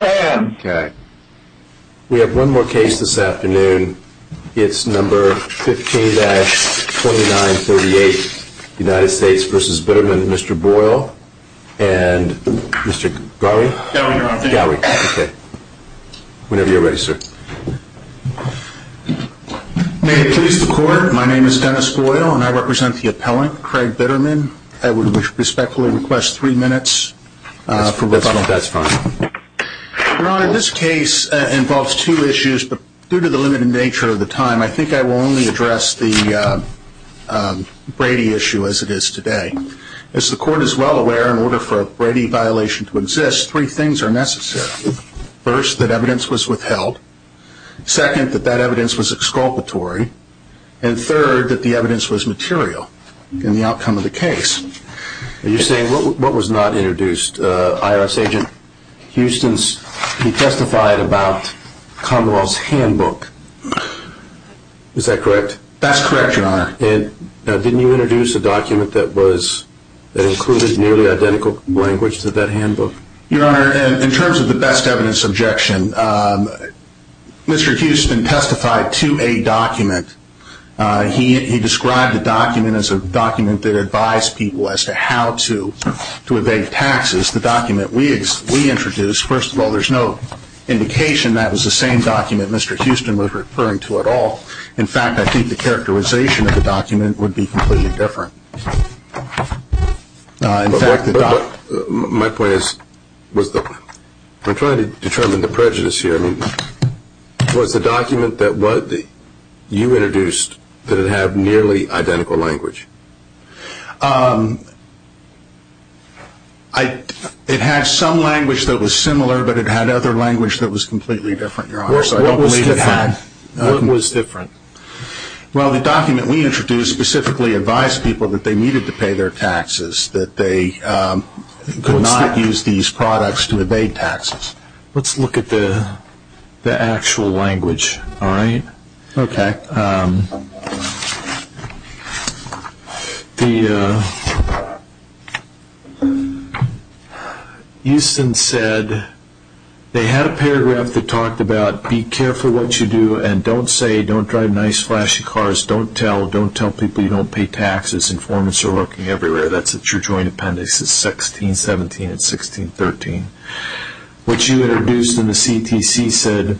We have one more case this afternoon. It's number 15-2938, United States v. Bitterman, Mr. Boyle and Mr. Gowey. Whenever you're ready, sir. May it please the court, my name is Dennis Boyle and I represent the appellant, Craig Bitterman. I would respectfully request three minutes for rebuttal. That's fine. Your Honor, this case involves two issues, but due to the limited nature of the time, I think I will only address the Brady issue as it is today. As the court is well aware, in order for a Brady violation to exist, three things are necessary. First, that evidence was withheld. Second, that that evidence was exculpatory. And third, that the evidence was material in the outcome of the case. You're saying what was not introduced? IRS agent Huston testified about Commonwealth's handbook. Is that correct? That's correct, Your Honor. Didn't you introduce a document that included nearly identical language to that handbook? Your Honor, in terms of the best evidence objection, Mr. Huston testified to a document. He described the document as a document that advised people as to how to evade taxes. The document we introduced, first of all, there's no indication that was the same document Mr. Huston was referring to at all. In fact, I think the characterization of the document would be completely different. My point is, I'm trying to determine the prejudice here. Was the document that you introduced, did it have nearly identical language? It had some language that was similar, but it had other language that was completely different, Your Honor. What was different? Well, the document we introduced specifically advised people that they needed to pay their taxes, that they could not use these products to evade taxes. Let's look at the actual language, all right? Okay. Huston said they had a paragraph that talked about, Be careful what you do and don't say, don't drive nice flashy cars. Don't tell, don't tell people you don't pay taxes. Informants are lurking everywhere. That's at your joint appendix. It's 1617 and 1613. What you introduced in the CTC said,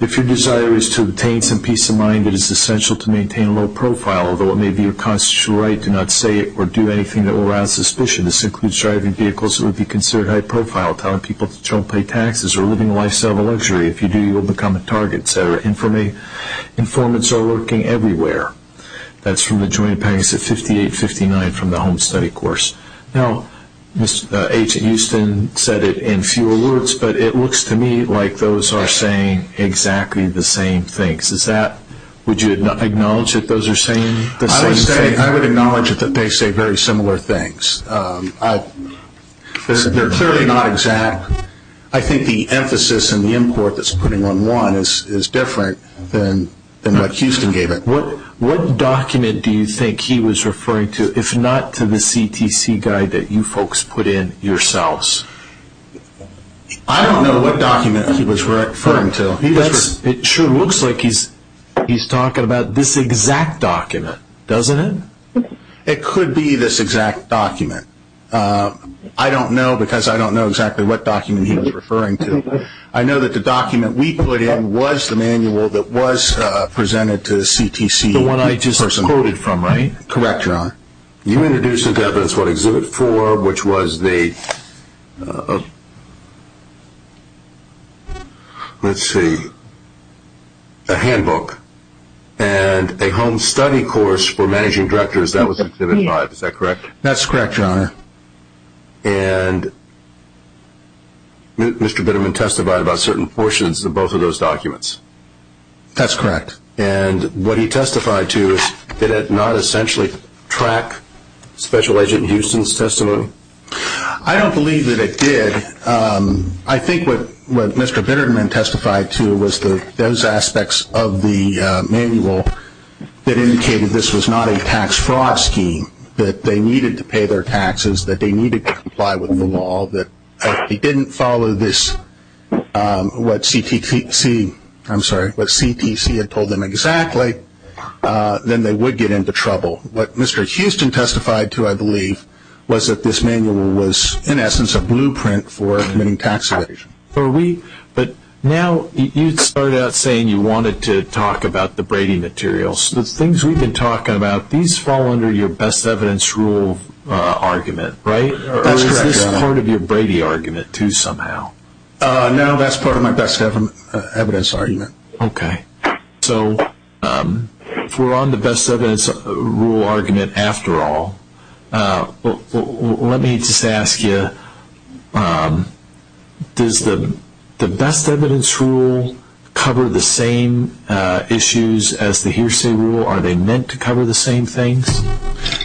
If your desire is to obtain some peace of mind, it is essential to maintain a low profile. Although it may be your constitutional right to not say or do anything that will rouse suspicion. This includes driving vehicles that would be considered high profile, telling people that you don't pay taxes, or living a lifestyle of luxury. If you do, you will become a target, et cetera. Informants are lurking everywhere. That's from the joint appendix at 5859 from the home study course. Now, Agent Huston said it in few words, but it looks to me like those are saying exactly the same things. Would you acknowledge that those are saying the same thing? I would acknowledge that they say very similar things. They're clearly not exact. I think the emphasis and the import that's putting on one is different than what Huston gave it. What document do you think he was referring to, if not to the CTC guide that you folks put in yourselves? I don't know what document he was referring to. It sure looks like he's talking about this exact document, doesn't it? It could be this exact document. I don't know because I don't know exactly what document he was referring to. I know that the document we put in was the manual that was presented to the CTC. The one I just quoted from, right? Correct, John. You introduced into evidence what exhibit four, which was the, let's see, a handbook and a home study course for managing directors. That was exhibit five. Is that correct? That's correct, John. And Mr. Bitterman testified about certain portions of both of those documents? That's correct. And what he testified to, did it not essentially track Special Agent Huston's testimony? I don't believe that it did. I think what Mr. Bitterman testified to was those aspects of the manual that indicated this was not a tax fraud scheme, that they needed to pay their taxes, that they needed to comply with the law, that if they didn't follow this, what CTC had told them exactly, then they would get into trouble. What Mr. Huston testified to, I believe, was that this manual was, in essence, a blueprint for committing tax evasion. But now you start out saying you wanted to talk about the Brady materials. The things we've been talking about, these fall under your best evidence rule argument, right? That's correct, John. Or is this part of your Brady argument, too, somehow? No, that's part of my best evidence argument. Okay. So if we're on the best evidence rule argument after all, let me just ask you, does the best evidence rule cover the same issues as the hearsay rule? Are they meant to cover the same things?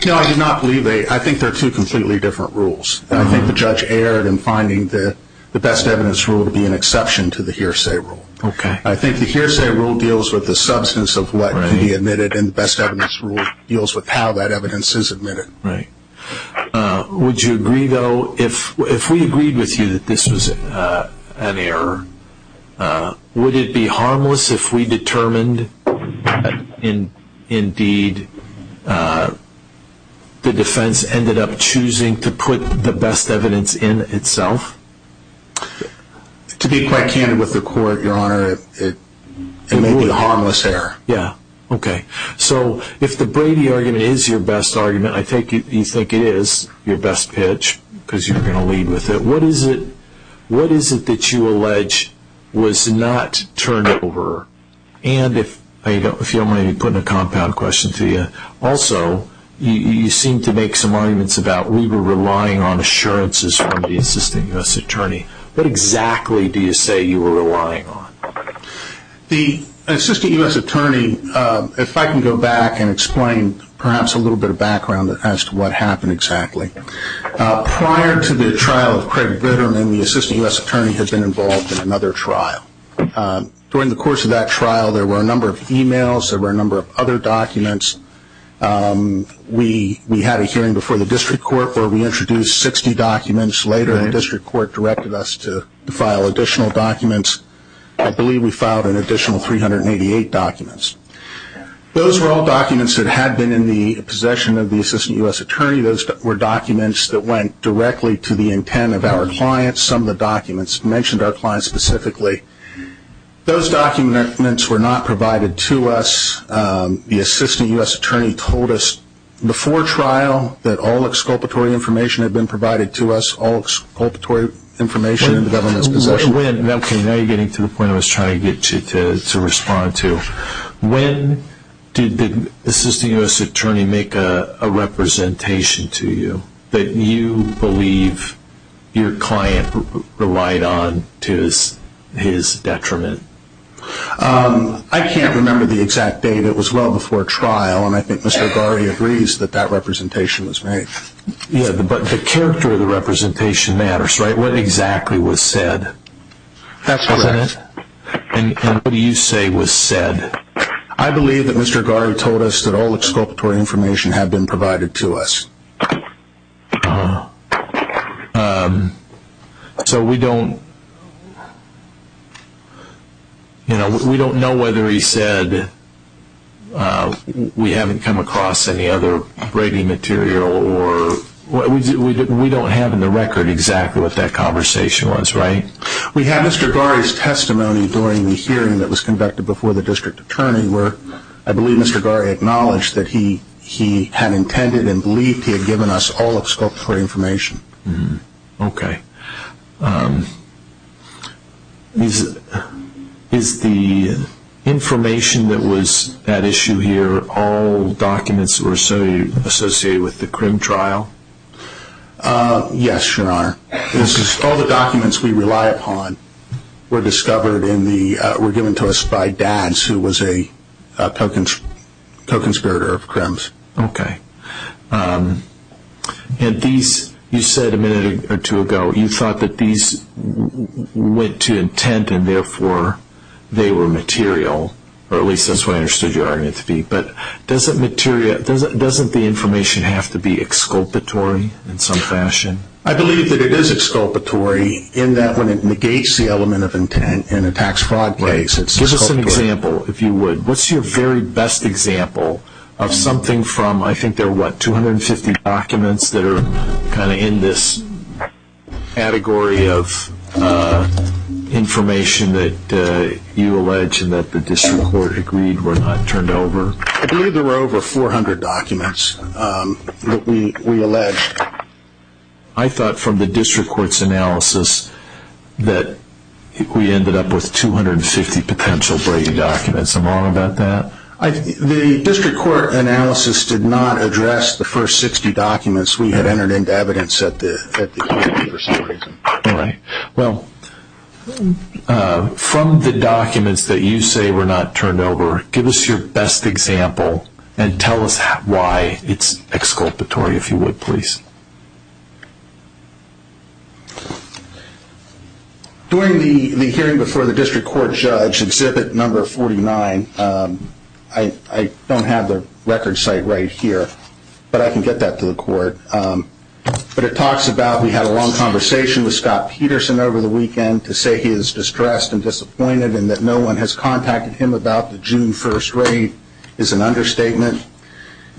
No, I do not believe they. I think they're two completely different rules. I think the judge erred in finding the best evidence rule to be an exception to the hearsay rule. I think the hearsay rule deals with the substance of what can be admitted, and the best evidence rule deals with how that evidence is admitted. Right. Would you agree, though, if we agreed with you that this was an error, would it be harmless if we determined, indeed, the defense ended up choosing to put the best evidence in itself? To be quite candid with the court, Your Honor, it may be a harmless error. Yeah. Okay. So if the Brady argument is your best argument, I think you think it is your best pitch, because you're going to lead with it. What is it that you allege was not turned over? And if you don't mind me putting a compound question to you, also you seem to make some arguments about we were relying on assurances from the Assistant U.S. Attorney. What exactly do you say you were relying on? The Assistant U.S. Attorney, if I can go back and explain perhaps a little bit of background as to what happened exactly. Prior to the trial of Craig Bitterman, the Assistant U.S. Attorney had been involved in another trial. During the course of that trial, there were a number of e-mails. There were a number of other documents. We had a hearing before the district court where we introduced 60 documents. Later, the district court directed us to file additional documents. I believe we filed an additional 388 documents. Those were all documents that had been in the possession of the Assistant U.S. Attorney. Those were documents that went directly to the intent of our clients. Some of the documents mentioned our clients specifically. Those documents were not provided to us. The Assistant U.S. Attorney told us before trial that all exculpatory information had been provided to us. All exculpatory information was in the government's possession. Now you're getting to the point I was trying to get you to respond to. When did the Assistant U.S. Attorney make a representation to you that you believe your client relied on to his detriment? I can't remember the exact date. It was well before trial, and I think Mr. Gardy agrees that that representation was made. But the character of the representation matters, right? What exactly was said? That's correct. And what do you say was said? I believe that Mr. Gardy told us that all exculpatory information had been provided to us. So we don't know whether he said we haven't come across any other braiding material. We don't have in the record exactly what that conversation was, right? We have Mr. Gardy's testimony during the hearing that was conducted before the District Attorney where I believe Mr. Gardy acknowledged that he had intended and believed he had given us all exculpatory information. Okay. Is the information that was at issue here all documents that were associated with the crim trial? Yes, Your Honor. All the documents we rely upon were discovered and were given to us by Dads, who was a co-conspirator of Crim's. Okay. And these, you said a minute or two ago, you thought that these went to intent and therefore they were material, or at least that's what I understood your argument to be. But doesn't the information have to be exculpatory in some fashion? I believe that it is exculpatory in that when it negates the element of intent in a tax fraud case, it's exculpatory. Give us an example, if you would. What's your very best example of something from, I think there are what, 250 documents that are kind of in this category of information that you allege and that the District Court agreed were not turned over? I believe there were over 400 documents that we alleged. I thought from the District Court's analysis that we ended up with 250 potential breaking documents. Am I wrong about that? The District Court analysis did not address the first 60 documents we had entered into evidence at the time. All right. Well, from the documents that you say were not turned over, give us your best example and tell us why it's exculpatory, if you would, please. During the hearing before the District Court judge, Exhibit No. 49, I don't have the record site right here, but I can get that to the court. But it talks about, we had a long conversation with Scott Peterson over the weekend to say he is distressed and disappointed and that no one has contacted him about the June 1st raid. It's an understatement.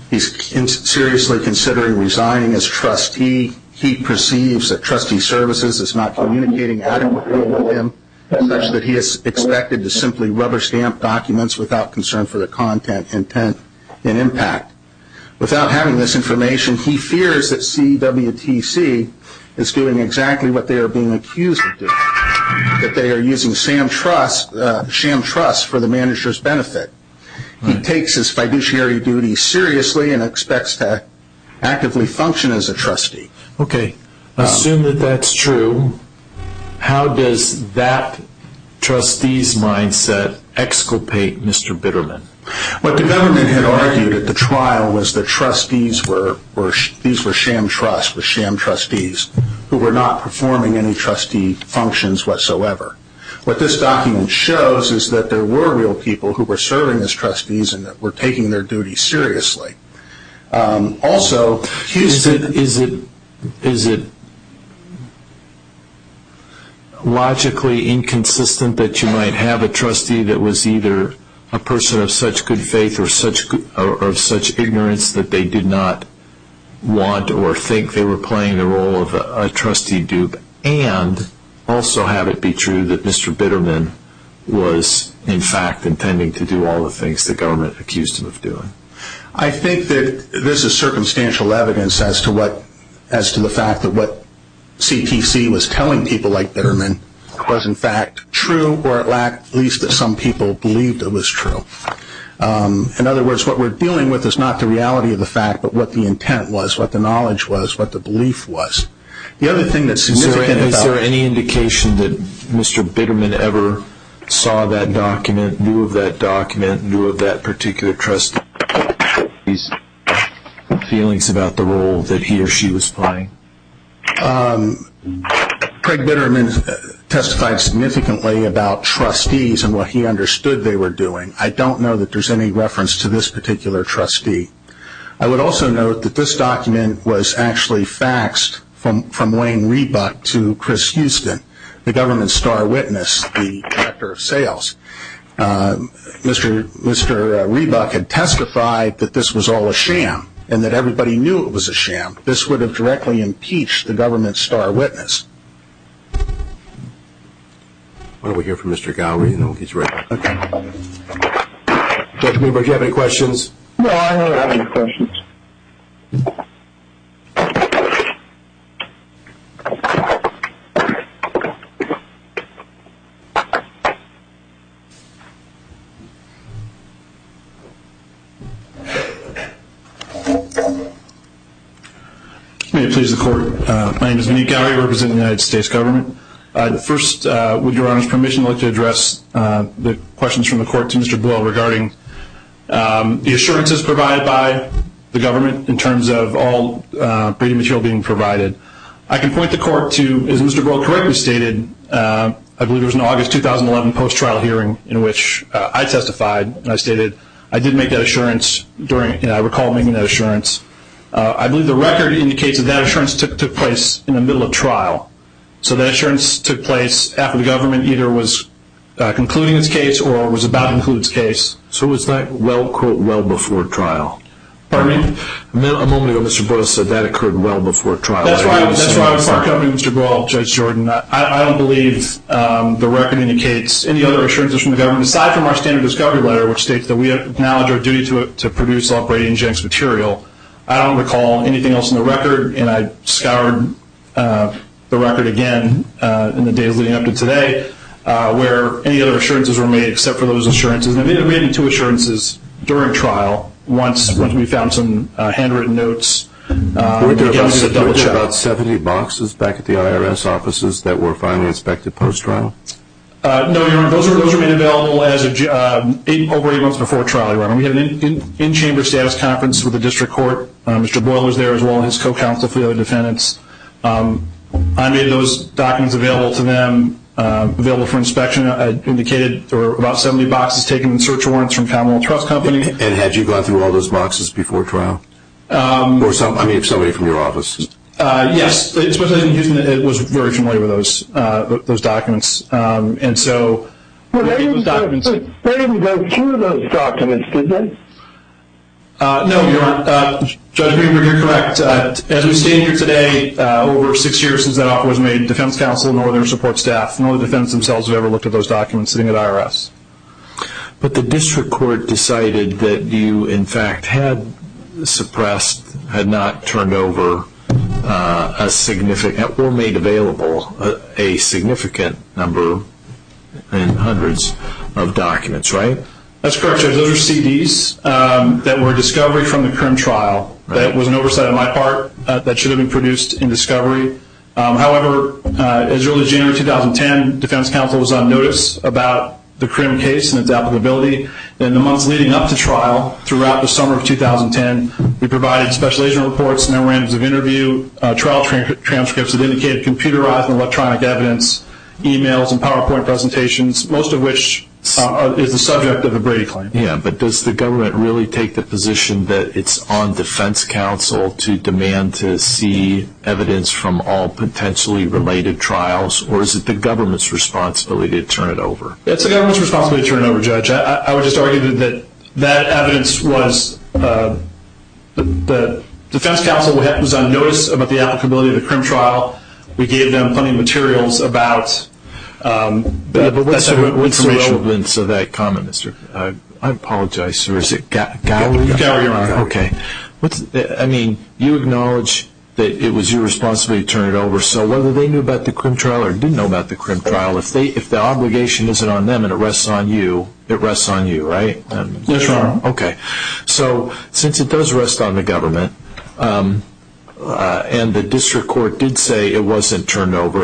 He's seriously considering resigning as trustee. He perceives that trustee services is not communicating adequately with him, such that he is expected to simply rubber stamp documents without concern for the content, intent, and impact. Without having this information, he fears that CWTC is doing exactly what they are being accused of doing, that they are using sham trusts for the manager's benefit. He takes his fiduciary duties seriously and expects to actively function as a trustee. Okay. Assume that that's true. How does that trustee's mindset exculpate Mr. Bitterman? What the government had argued at the trial was that these were sham trusts with sham trustees who were not performing any trustee functions whatsoever. What this document shows is that there were real people who were serving as trustees and were taking their duties seriously. Also, is it logically inconsistent that you might have a trustee that was either a person of such good faith or of such ignorance that they did not want or think they were playing the role of a trustee dupe and also have it be true that Mr. Bitterman was, in fact, intending to do all the things the government accused him of doing? I think that this is circumstantial evidence as to the fact that what CTC was telling people like Bitterman was, in fact, true or at least that some people believed it was true. In other words, what we're dealing with is not the reality of the fact, but what the intent was, what the knowledge was, what the belief was. The other thing that's significant about it... Is there any indication that Mr. Bitterman ever saw that document, knew of that document, knew of that particular trustee's feelings about the role that he or she was playing? Craig Bitterman testified significantly about trustees and what he understood they were doing. I don't know that there's any reference to this particular trustee. I would also note that this document was actually faxed from Wayne Reebuck to Chris Houston, the government's star witness, the Director of Sales. Mr. Reebuck had testified that this was all a sham and that everybody knew it was a sham. This would have directly impeached the government's star witness. Why don't we hear from Mr. Gowrie and then we'll get you ready. Okay. Dr. Greenberg, do you have any questions? No, I don't have any questions. May it please the Court. My name is Vaneek Gowrie. I represent the United States government. First, with Your Honor's permission, I'd like to address the questions from the Court to Mr. Boyle regarding the assurances provided by the government in terms of all material being provided. I can point the Court to, as Mr. Boyle correctly stated, I believe there was an August 2011 post-trial hearing in which I testified and I stated I did make that assurance and I recall making that assurance. I believe the record indicates that that assurance took place in the middle of trial. So that assurance took place after the government either was concluding its case or was about to conclude its case. So it was well before trial? Pardon me? A moment ago Mr. Boyle said that occurred well before trial. That's why I was part company with Mr. Boyle, Judge Jordan. I don't believe the record indicates any other assurances from the government, aside from our standard discovery letter which states that we acknowledge our duty to produce all Brady and Jenks material. I don't recall anything else in the record, and I scoured the record again in the days leading up to today, where any other assurances were made except for those assurances. I made two assurances during trial once we found some handwritten notes. Were there about 70 boxes back at the IRS offices that were finally inspected post-trial? No, Your Honor. Those were made available over eight months before trial, Your Honor. We had an in-chamber status conference with the district court. Mr. Boyle was there as well as his co-counsel for the other defendants. I made those documents available to them, available for inspection. I indicated there were about 70 boxes taken in search warrants from Commonwealth Trust Company. And had you gone through all those boxes before trial? I mean, if somebody was from your office. Yes. It was very familiar with those documents. They didn't go through those documents, did they? No, Your Honor. Judge Greenberg, you're correct. As we stand here today, over six years since that offer was made, defense counsel and other support staff, none of the defendants themselves have ever looked at those documents sitting at IRS. But the district court decided that you, in fact, had suppressed, had not turned over or made available a significant number and hundreds of documents, right? That's correct, Judge. Those are CDs that were discovered from the current trial. That was an oversight on my part. That should have been produced in discovery. However, as early as January 2010, defense counsel was on notice about the Crim case and its applicability. In the months leading up to trial, throughout the summer of 2010, we provided special agent reports, memorandums of interview, trial transcripts that indicated computerized and electronic evidence, emails and PowerPoint presentations, most of which is the subject of the Brady claim. Yeah, but does the government really take the position that it's on defense counsel to demand to see evidence from all potentially related trials, or is it the government's responsibility to turn it over? It's the government's responsibility to turn it over, Judge. I would just argue that that evidence was, the defense counsel was on notice about the applicability of the Crim trial. We gave them plenty of materials about that segment. What's the relevance of that comment, Mr.? I apologize, sir. Is it Gowrie? Gowrie, Your Honor. Okay. I mean, you acknowledge that it was your responsibility to turn it over, so whether they knew about the Crim trial or didn't know about the Crim trial, if the obligation isn't on them and it rests on you, it rests on you, right? Yes, Your Honor. Okay. So since it does rest on the government, and the district court did say it wasn't turned over,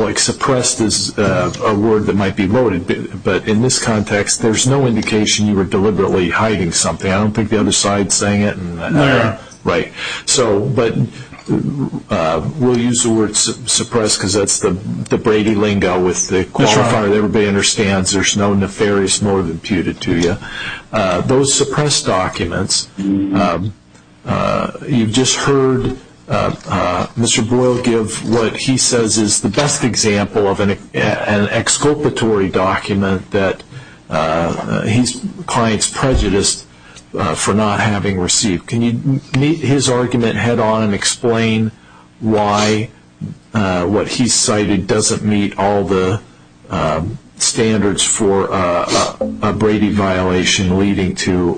like suppressed is a word that might be loaded, but in this context there's no indication you were deliberately hiding something. I don't think the other side is saying it. No. Right. But we'll use the word suppressed because that's the Brady lingo with the qualifier that everybody understands there's no nefarious nor that imputed to you. Those suppressed documents, you just heard Mr. Boyle give what he says is the best example of an exculpatory document that he's client's prejudiced for not having received. Can you meet his argument head on and explain why what he cited doesn't meet all the standards for a Brady violation leading to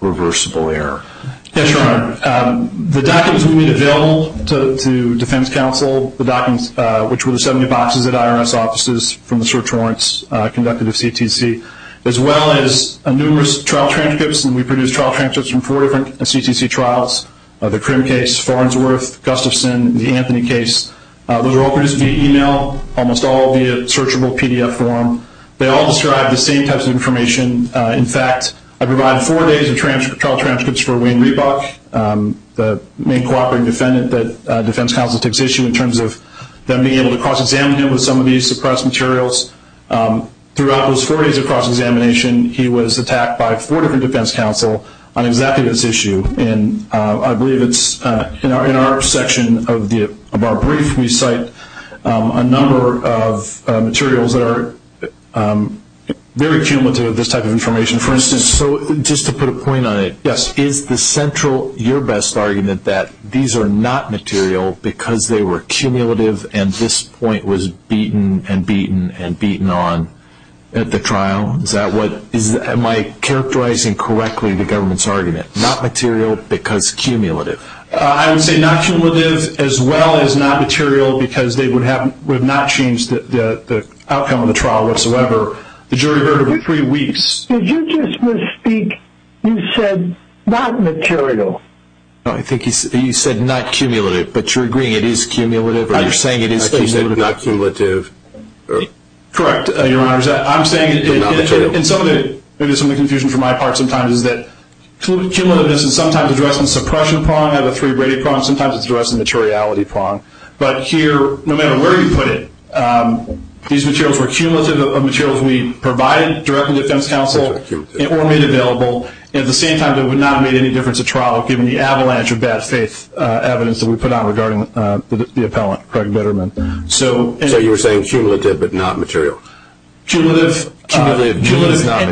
reversible error? Yes, Your Honor. The documents we made available to defense counsel, which were the 70 boxes at IRS offices from the search warrants conducted at CTC, as well as numerous trial transcripts, and we produced trial transcripts from four different CTC trials, the Crim case, Farnsworth, Gustafson, the Anthony case. Those were all produced via email, almost all via searchable PDF form. They all describe the same types of information. In fact, I provided four days of trial transcripts for Wayne Reebok, the main cooperating defendant that defense counsel takes issue in terms of them being able to cross-examine him with some of these suppressed materials. Throughout those four days of cross-examination, he was attacked by four different defense counsel on exactly this issue. I believe it's in our section of our brief we cite a number of materials that are very cumulative of this type of information. For instance, just to put a point on it, is the central your best argument that these are not material because they were cumulative and this point was beaten and beaten and beaten on at the trial? Am I characterizing correctly the government's argument, not material because cumulative? I would say not cumulative as well as not material because they would not change the outcome of the trial whatsoever. The jury heard over three weeks. Did you just misspeak? You said not material. No, I think you said not cumulative, but you're agreeing it is cumulative or you're saying it is cumulative. She said not cumulative. Correct, Your Honors. I'm saying it is not material. And some of the confusion for my part sometimes is that cumulativeness is sometimes addressed in suppression prong, not a three-braided prong. Sometimes it's addressed in materiality prong. But here, no matter where you put it, these materials were cumulative of materials provided directly to defense counsel or made available and at the same time they would not have made any difference at trial given the avalanche of bad faith evidence that we put out regarding the appellant, Craig Betterman. So you were saying cumulative but not material. Cumulative and not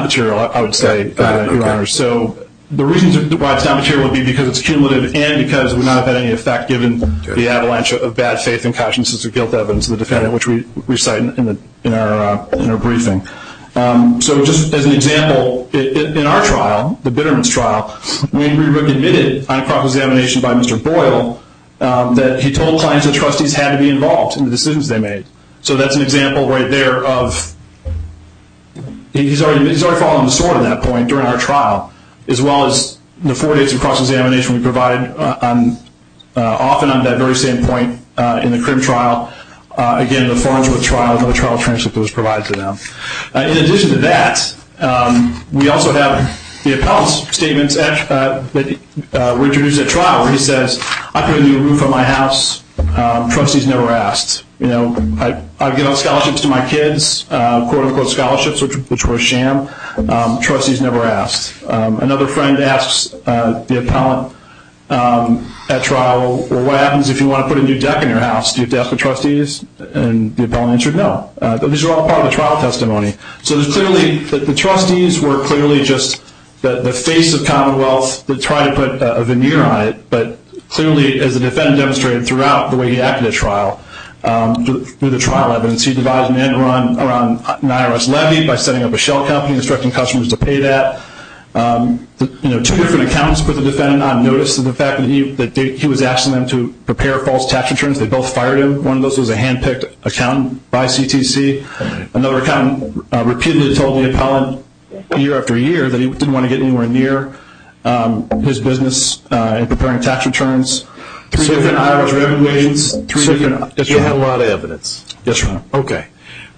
material, I would say, Your Honors. So the reasons why it's not material would be because it's cumulative and because it would not have had any effect given the avalanche of bad faith and cautiousness of guilt evidence of the defendant, which we cite in our briefing. So just as an example, in our trial, the Betterman's trial, we admitted on a cross-examination by Mr. Boyle that he told clients that trustees had to be involved in the decisions they made. So that's an example right there of he's already fallen on the sword at that point during our trial, as well as the four days of cross-examination we provide often on that very same point in the crim trial. Again, the Farnsworth trial, another trial transcript that was provided to them. In addition to that, we also have the appellant's statements that were introduced at trial where he says, I put a new roof on my house. Trustees never asked. I give out scholarships to my kids, quote-unquote scholarships, which were a sham. Trustees never asked. Another friend asks the appellant at trial, well, what happens if you want to put a new deck in your house? Do you have to ask the trustees? And the appellant answered no. But these are all part of the trial testimony. So the trustees were clearly just the face of commonwealth to try to put a veneer on it. But clearly, as the defendant demonstrated throughout the way he acted at trial, through the trial evidence, he devised an end-run around an IRS levy by setting up a shell company and instructing customers to pay that. Two different accountants put the defendant on notice of the fact that he was asking them to prepare false tax returns. They both fired him. One of those was a hand-picked accountant by CTC. Another accountant repeatedly told the appellant year after year that he didn't want to get anywhere near his business in preparing tax returns. Three different IRS revocations. You have a lot of evidence. Yes, sir. Okay.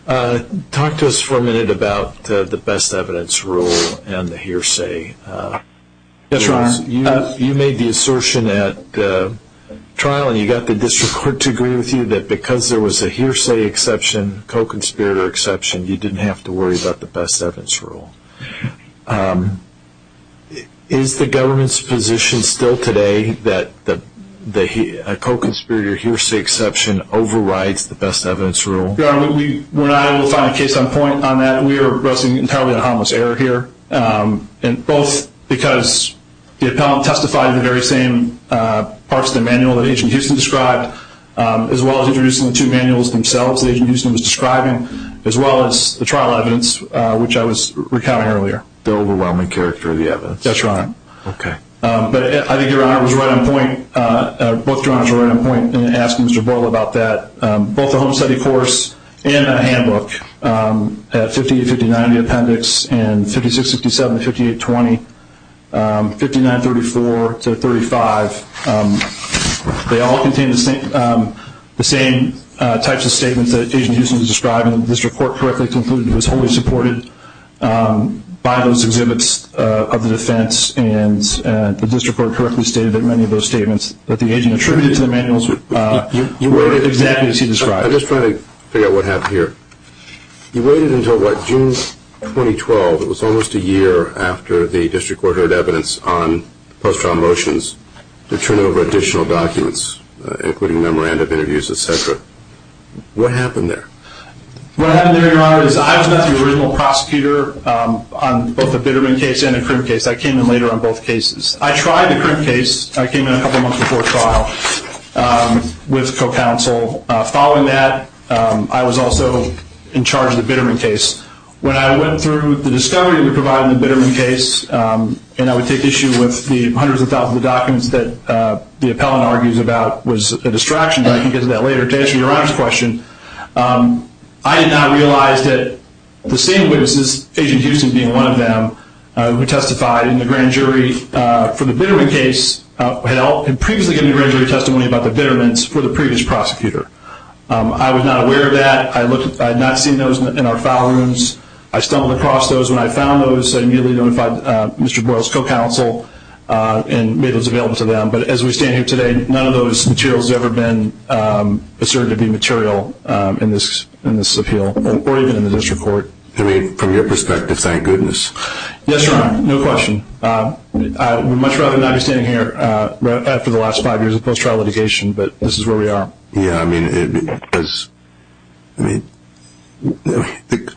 Talk to us for a minute about the best evidence rule and the hearsay. You made the assertion at trial, and you got the district court to agree with you, that because there was a hearsay exception, co-conspirator exception, you didn't have to worry about the best evidence rule. Is the government's position still today that a co-conspirator hearsay exception overrides the best evidence rule? Your Honor, we're not able to find a case on point on that. We are addressing entirely a harmless error here, both because the appellant testified in the very same parts of the manual that Agent Houston described, as well as introducing the two manuals themselves that Agent Houston was describing, as well as the trial evidence, which I was recounting earlier. The overwhelming character of the evidence. That's right. Okay. But I think Your Honor was right on point. Both Your Honors were right on point in asking Mr. Boyle about that. Both the home study course and the handbook at 58-59, the appendix, and 56-67, 58-20, 59-34 to 35, they all contain the same types of statements that Agent Houston was describing. The district court correctly concluded he was wholly supported by those exhibits of the defense, and the district court correctly stated that many of those statements that the agent attributed to the manuals were exactly as he described. I'm just trying to figure out what happened here. You waited until what, June 2012? It was almost a year after the district court heard evidence on post-trial motions to turn over additional documents, including memorandum interviews, et cetera. What happened there? What happened there, Your Honor, is I was not the original prosecutor on both the Bitterman case and the Crim case. I came in later on both cases. I tried the Crim case. I came in a couple months before trial with co-counsel. Following that, I was also in charge of the Bitterman case. When I went through the discovery we provided in the Bitterman case, and I would take issue with the hundreds of thousands of documents that the appellant argues about was a distraction, but I can get to that later. To answer Your Honor's question, I did not realize that the same witnesses, Agent Houston being one of them, who testified in the grand jury for the Bitterman case, had previously given grand jury testimony about the Bittermans for the previous prosecutor. I was not aware of that. I had not seen those in our file rooms. I stumbled across those. When I found those, I immediately notified Mr. Boyle's co-counsel and made those available to them. But as we stand here today, none of those materials have ever been asserted to be material in this appeal or even in the district court. I mean, from your perspective, thank goodness. Yes, Your Honor. No question. I would much rather not be standing here after the last five years of post-trial litigation, but this is where we are. Yeah, I mean,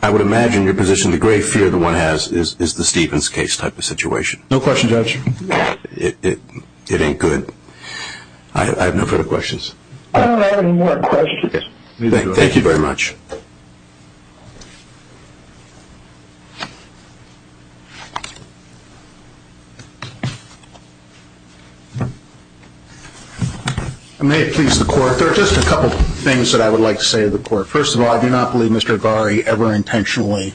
I would imagine your position, the great fear that one has, is the Stevens case type of situation. No question, Judge. It ain't good. I have no further questions. I don't have any more questions. Thank you very much. I may have pleased the Court. There are just a couple of things that I would like to say to the Court. First of all, I do not believe Mr. Agari ever intentionally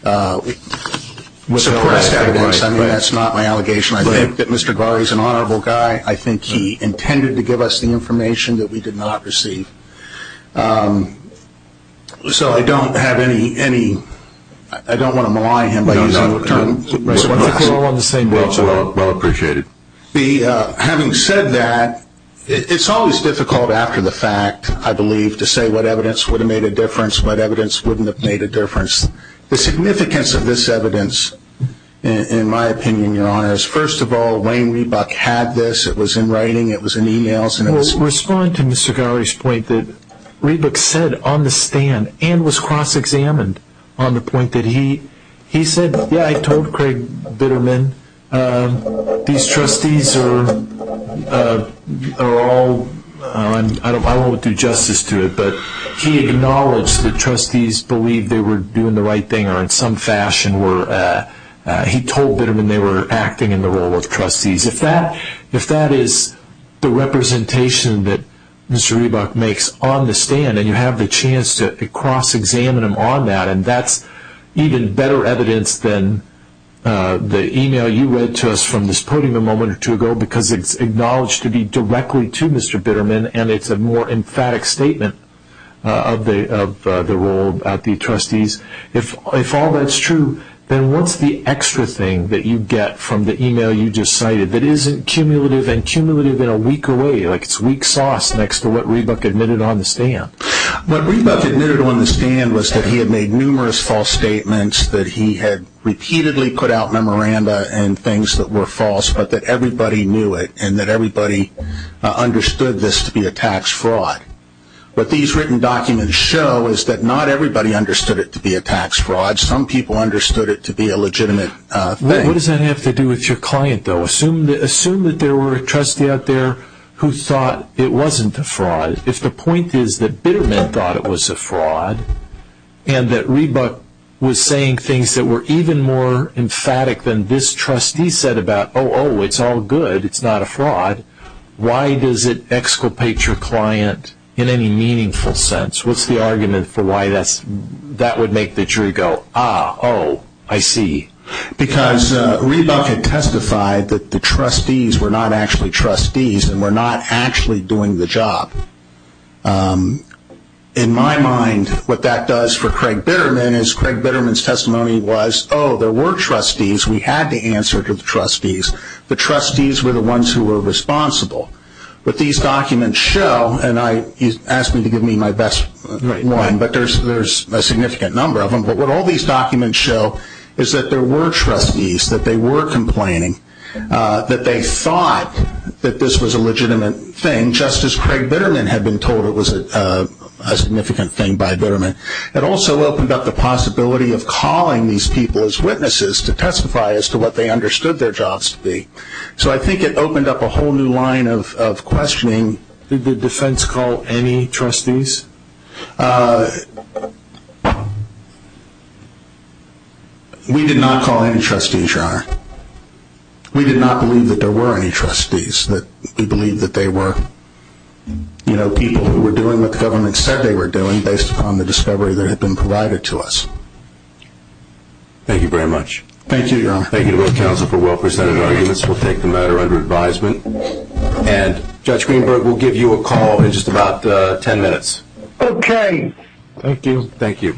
suppressed evidence. I mean, that's not my allegation. I think that Mr. Agari is an honorable guy. I think he intended to give us the information that we did not receive. So I don't have any, I don't want to malign him by using the term. No, no. We're all on the same page. Well appreciated. Having said that, it's always difficult after the fact, I believe, to say what evidence would have made a difference, what evidence wouldn't have made a difference. The significance of this evidence, in my opinion, Your Honor, is first of all, Wayne Reebok had this. It was in writing. It was in emails. Respond to Mr. Agari's point that Reebok said on the stand and was cross-examined on the point that he said, yeah, I told Craig Bitterman these trustees are all, I won't do justice to it, but he acknowledged that trustees believed they were doing the right thing or in some fashion were, he told Bitterman they were acting in the role of trustees. If that is the representation that Mr. Reebok makes on the stand and you have the chance to cross-examine him on that, and that's even better evidence than the email you read to us from this podium a moment or two ago because it's acknowledged to be directly to Mr. Bitterman and it's a more emphatic statement of the role of the trustees. If all that's true, then what's the extra thing that you get from the email you just cited that isn't cumulative and cumulative in a weaker way, like it's weak sauce next to what Reebok admitted on the stand? What Reebok admitted on the stand was that he had made numerous false statements, that he had repeatedly put out memoranda and things that were false, but that everybody knew it and that everybody understood this to be a tax fraud. What these written documents show is that not everybody understood it to be a tax fraud. Some people understood it to be a legitimate thing. What does that have to do with your client, though? Assume that there were a trustee out there who thought it wasn't a fraud. If the point is that Bitterman thought it was a fraud and that Reebok was saying things that were even more emphatic than this trustee said about, oh, oh, it's all good, it's not a fraud, why does it exculpate your client in any meaningful sense? What's the argument for why that would make the jury go, ah, oh, I see. Because Reebok had testified that the trustees were not actually trustees and were not actually doing the job. In my mind, what that does for Craig Bitterman is Craig Bitterman's testimony was, oh, there were trustees, we had to answer to the trustees, the trustees were the ones who were responsible. What these documents show, and you asked me to give me my best one, but there's a significant number of them, but what all these documents show is that there were trustees, that they were complaining, that they thought that this was a legitimate thing, just as Craig Bitterman had been told it was a significant thing by Bitterman. It also opened up the possibility of calling these people as witnesses to testify as to what they understood their jobs to be. So I think it opened up a whole new line of questioning. Did the defense call any trustees? We did not call any trustees, Your Honor. We did not believe that there were any trustees. We believed that they were people who were doing what the government said they were doing based upon the discovery that had been provided to us. Thank you very much. Thank you, Your Honor. Thank you to both counsel for well-presented arguments. We'll take the matter under advisement. And Judge Greenberg, we'll give you a call in just about ten minutes. Okay. Thank you. Thank you. All right. Thank you.